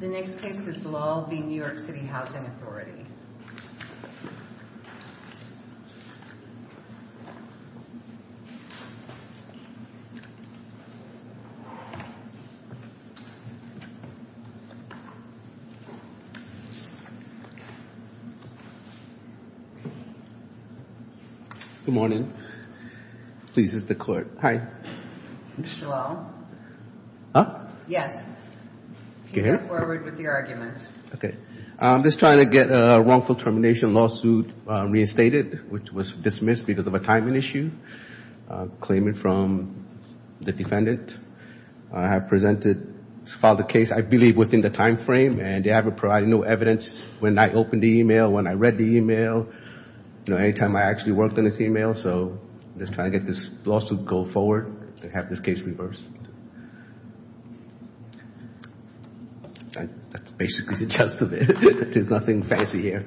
The next case is Lall v. New York City Housing Authority. Good morning. Please, this is the court. Hi. Mr. Lall? Huh? Yes. Can you come forward with your argument? Okay. I'm just trying to get a wrongful termination lawsuit reinstated, which was dismissed because of a timing issue, claiming from the defendant. I have presented, filed a case, I believe, within the time frame, and they haven't provided no evidence when I opened the email, when I read the email, you know, any time I actually worked on this email. So I'm just trying to get this lawsuit to go forward and have this case reversed. That's basically the gist of it. There's nothing fancy here.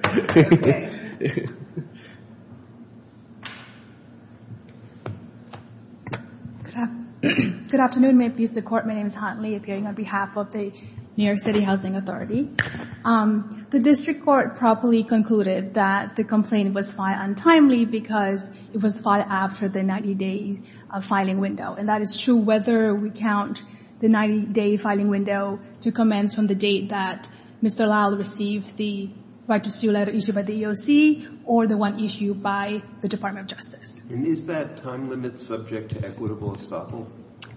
Good afternoon. May it please the court. My name is Han Li, appearing on behalf of the New York City Housing Authority. The district court properly concluded that the complaint was filed untimely because it was filed after the 90-day filing window. And that is true whether we count the 90-day filing window to commence from the date that Mr. Lall received the right to sue letter issued by the EOC or the one issued by the Department of Justice. And is that time limit subject to equitable estoppel?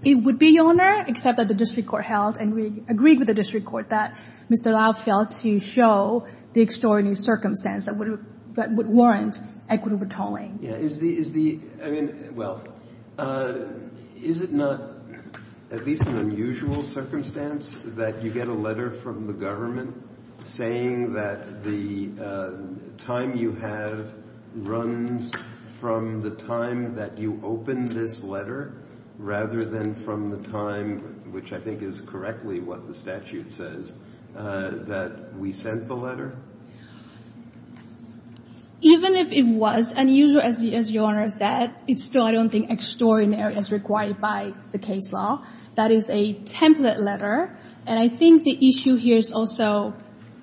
It would be, Your Honor, except that the district court held and we agreed with the district court that Mr. Lall failed to show the extraordinary circumstance that would warrant equitable tolling. Is the, well, is it not at least an unusual circumstance that you get a letter from the government saying that the time you have runs from the time that you opened this letter rather than from the time, which I think is correctly what the statute says, that we sent the letter? Even if it was unusual, as Your Honor said, it's still, I don't think, extraordinary as required by the case law. That is a template letter. And I think the issue here is also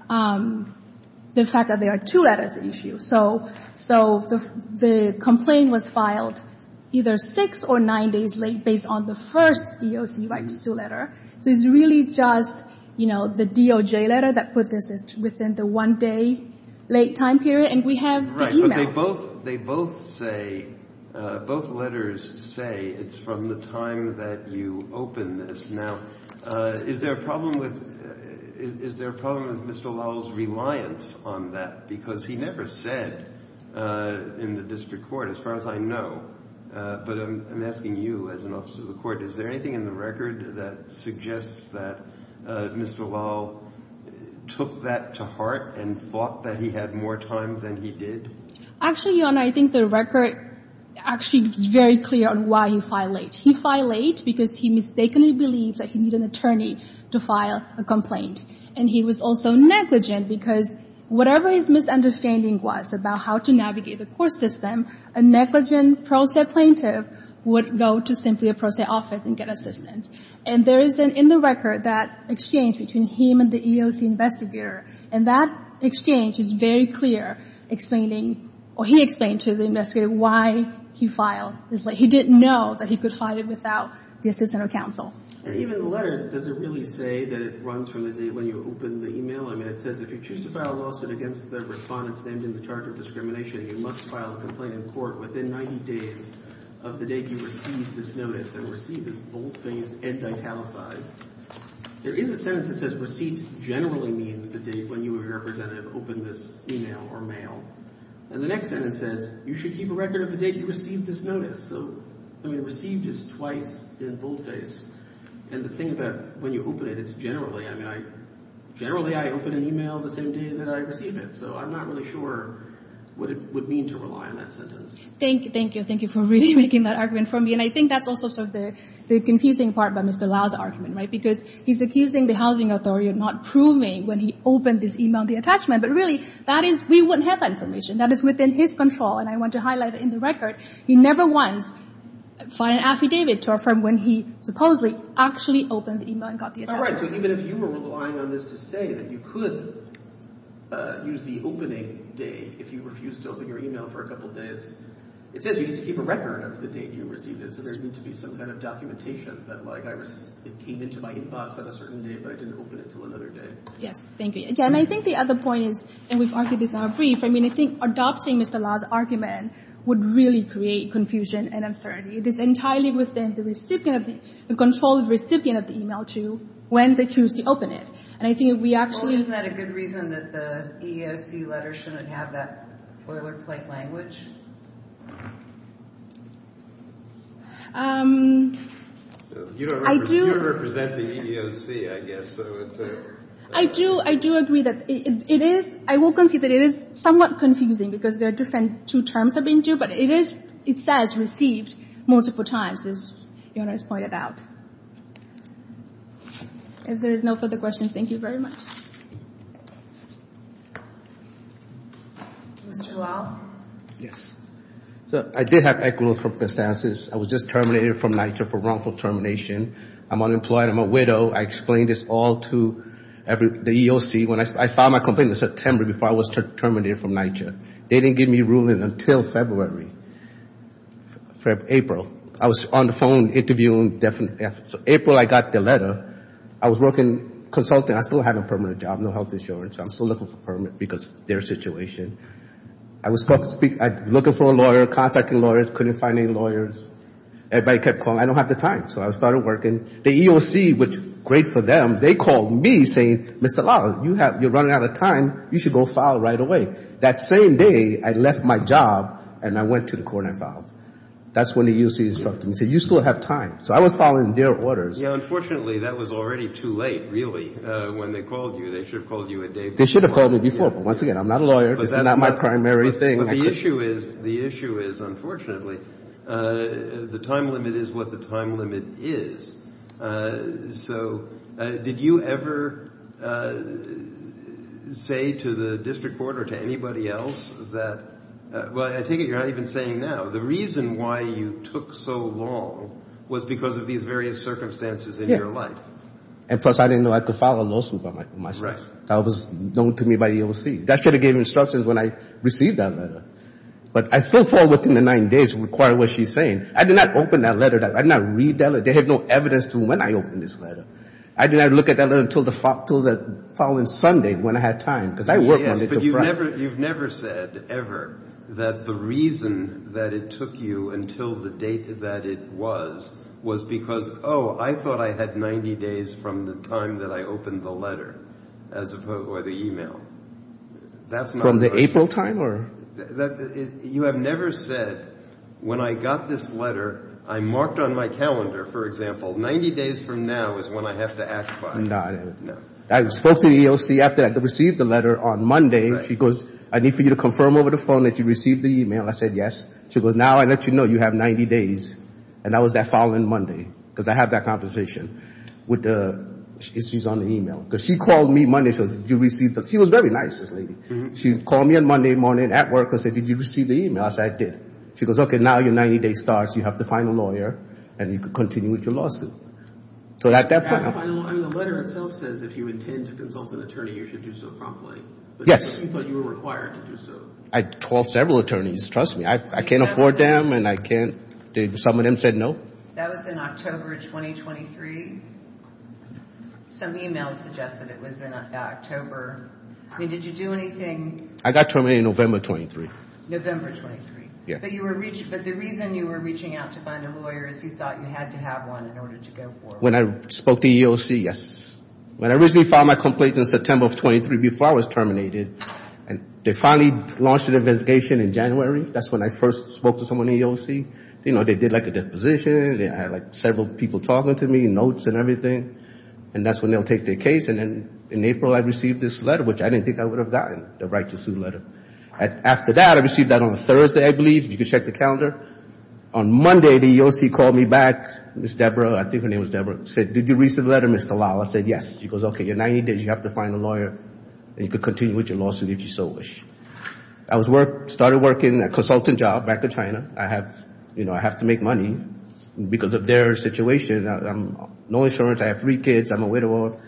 the fact that there are two letters issued. So the complaint was filed either six or nine days late based on the first EOC right to sue letter. So it's really just, you know, the DOJ letter that put this within the one-day late time period. And we have the e-mail. Right. But they both say, both letters say it's from the time that you opened this. Now, is there a problem with Mr. Lall's reliance on that? Because he never said in the district court, as far as I know. But I'm asking you as an officer of the court, is there anything in the record that suggests that Mr. Lall took that to heart and thought that he had more time than he did? Actually, Your Honor, I think the record actually is very clear on why he filed late. He filed late because he mistakenly believed that he needed an attorney to file a complaint. And he was also negligent because whatever his misunderstanding was about how to navigate the court system, a negligent pro se plaintiff would go to simply a pro se office and get assistance. And there is, in the record, that exchange between him and the EOC investigator. And that exchange is very clear explaining, or he explained to the investigator, why he filed this late. He didn't know that he could file it without the assistance of counsel. And even the letter, does it really say that it runs from the day when you open the e-mail? I mean, it says, if you choose to file a lawsuit against the Respondents named in the Charter of Discrimination, you must file a complaint in court within 90 days of the date you received this notice. And receive is boldface and italicized. There is a sentence that says receipt generally means the date when you, as a representative, open this e-mail or mail. And the next sentence says, you should keep a record of the date you received this notice. So, I mean, received is twice in boldface. And the thing about when you open it, it's generally, I mean, generally I open an e-mail the same day that I receive it. So I'm not really sure what it would mean to rely on that sentence. Thank you. Thank you. Thank you for really making that argument for me. And I think that's also sort of the confusing part about Mr. Lau's argument, right? Because he's accusing the housing authority of not proving when he opened this e-mail the attachment. But really, that is, we wouldn't have that information. That is within his control. And I want to highlight in the record, he never once filed an affidavit to affirm when he supposedly actually opened the e-mail and got the attachment. All right. So even if you were relying on this to say that you could use the opening date if you refused to open your e-mail for a couple days, it says you need to keep a record of the date you received it. So there would need to be some kind of documentation that, like, it came into my inbox on a certain day, but I didn't open it until another day. Yes. Thank you. Again, I think the other point is, and we've argued this in our brief, I mean, I think adopting Mr. Lau's argument would really create confusion and uncertainty. It is entirely within the control of the recipient of the e-mail to when they choose to open it. And I think if we actually— Do you have that boilerplate language? You don't represent the EEOC, I guess, so it's a— I do agree that it is—I will concede that it is somewhat confusing because there are different two terms that are being used, but it is—it says received multiple times, as Your Honor has pointed out. If there is no further questions, thank you very much. Mr. Lau? Yes. So I did have equitable circumstances. I was just terminated from NYCHA for wrongful termination. I'm unemployed. I'm a widow. I explained this all to the EEOC when I filed my complaint in September before I was terminated from NYCHA. They didn't give me a ruling until February—April. I was on the phone interviewing—so April I got the letter. I was working consulting. I still have a permanent job, no health insurance. I'm still looking for a permit because of their situation. I was looking for a lawyer, contacting lawyers, couldn't find any lawyers. Everybody kept calling. I don't have the time, so I started working. The EEOC, which is great for them, they called me saying, Mr. Lau, you're running out of time. You should go file right away. That same day, I left my job and I went to the court and I filed. That's when the EEOC instructed me. They said, you still have time. So I was following their orders. Yeah, unfortunately, that was already too late, really. When they called you, they should have called you a day before. They should have called me before, but once again, I'm not a lawyer. This is not my primary thing. But the issue is—the issue is, unfortunately, the time limit is what the time limit is. So did you ever say to the district court or to anybody else that—well, I take it you're not even saying now. The reason why you took so long was because of these various circumstances in your life. Yeah. And plus, I didn't know I could file a lawsuit by myself. Right. That was known to me by the EEOC. That should have given instructions when I received that letter. But I still fall within the nine days required what she's saying. I did not open that letter. I did not read that letter. They had no evidence to when I opened this letter. I did not look at that letter until the following Sunday when I had time because I worked Monday through Friday. You've never said ever that the reason that it took you until the date that it was was because, oh, I thought I had 90 days from the time that I opened the letter as opposed—or the e-mail. That's not— From the April time or— You have never said, when I got this letter, I marked on my calendar, for example, 90 days from now is when I have to act by. No, I didn't. No. I spoke to the EEOC after I received the letter on Monday. She goes, I need for you to confirm over the phone that you received the e-mail. I said, yes. She goes, now I let you know you have 90 days. And that was that following Monday because I had that conversation with the—she's on the e-mail. Because she called me Monday and says, did you receive the—she was a very nice lady. She called me on Monday morning at work and said, did you receive the e-mail? I said, I did. She goes, okay, now your 90-day starts. You have to find a lawyer and you can continue with your lawsuit. So at that point— The letter itself says if you intend to consult an attorney, you should do so promptly. Yes. But you thought you were required to do so. I called several attorneys. Trust me, I can't afford them and I can't—some of them said no. That was in October 2023. Some e-mails suggest that it was in October. I mean, did you do anything— I got terminated November 23. November 23. Yeah. But the reason you were reaching out to find a lawyer is you thought you had to have one in order to go forward. When I spoke to EEOC, yes. When I originally filed my complaint in September of 23 before I was terminated, they finally launched an investigation in January. That's when I first spoke to someone in EEOC. You know, they did like a disposition. They had like several people talking to me, notes and everything. And that's when they'll take their case. And then in April, I received this letter, which I didn't think I would have gotten, the right to sue letter. After that, I received that on a Thursday, I believe. You can check the calendar. On Monday, the EEOC called me back. Ms. Debra—I think her name was Debra—said, did you receive the letter, Ms. Kalawa? I said, yes. She goes, okay, you're 90 days. You have to find a lawyer, and you can continue with your lawsuit if you so wish. I started working a consultant job back in China. I have to make money because of their situation. I have no insurance. I have three kids. I'm a widower.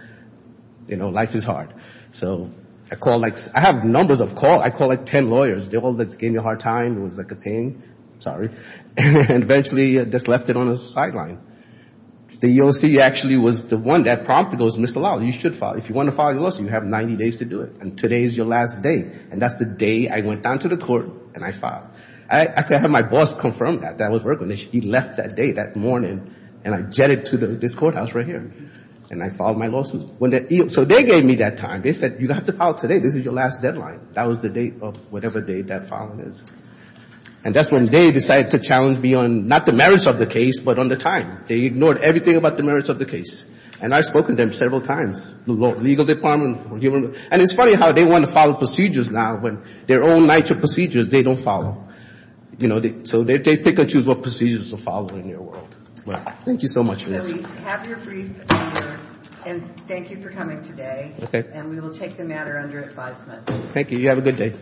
You know, life is hard. So I called like—I have numbers of calls. I called like 10 lawyers. They all gave me a hard time. It was like a pain. And eventually, just left it on the sideline. The EEOC actually was the one that prompted me. It goes, Mr. Lowell, you should file. If you want to file your lawsuit, you have 90 days to do it, and today is your last day. And that's the day I went down to the court, and I filed. I had my boss confirm that. That was working. He left that day, that morning, and I jetted to this courthouse right here. And I filed my lawsuit. So they gave me that time. They said, you have to file today. This is your last deadline. That was the date of whatever date that filing is. And that's when they decided to challenge me on not the merits of the case, but on the time. They ignored everything about the merits of the case. And I've spoken to them several times, the legal department. And it's funny how they want to follow procedures now when their own procedures they don't follow. You know, so they pick and choose what procedures to follow in their world. Thank you so much for this. Have your brief, and thank you for coming today. Okay. And we will take the matter under advisement. Thank you. You have a good day.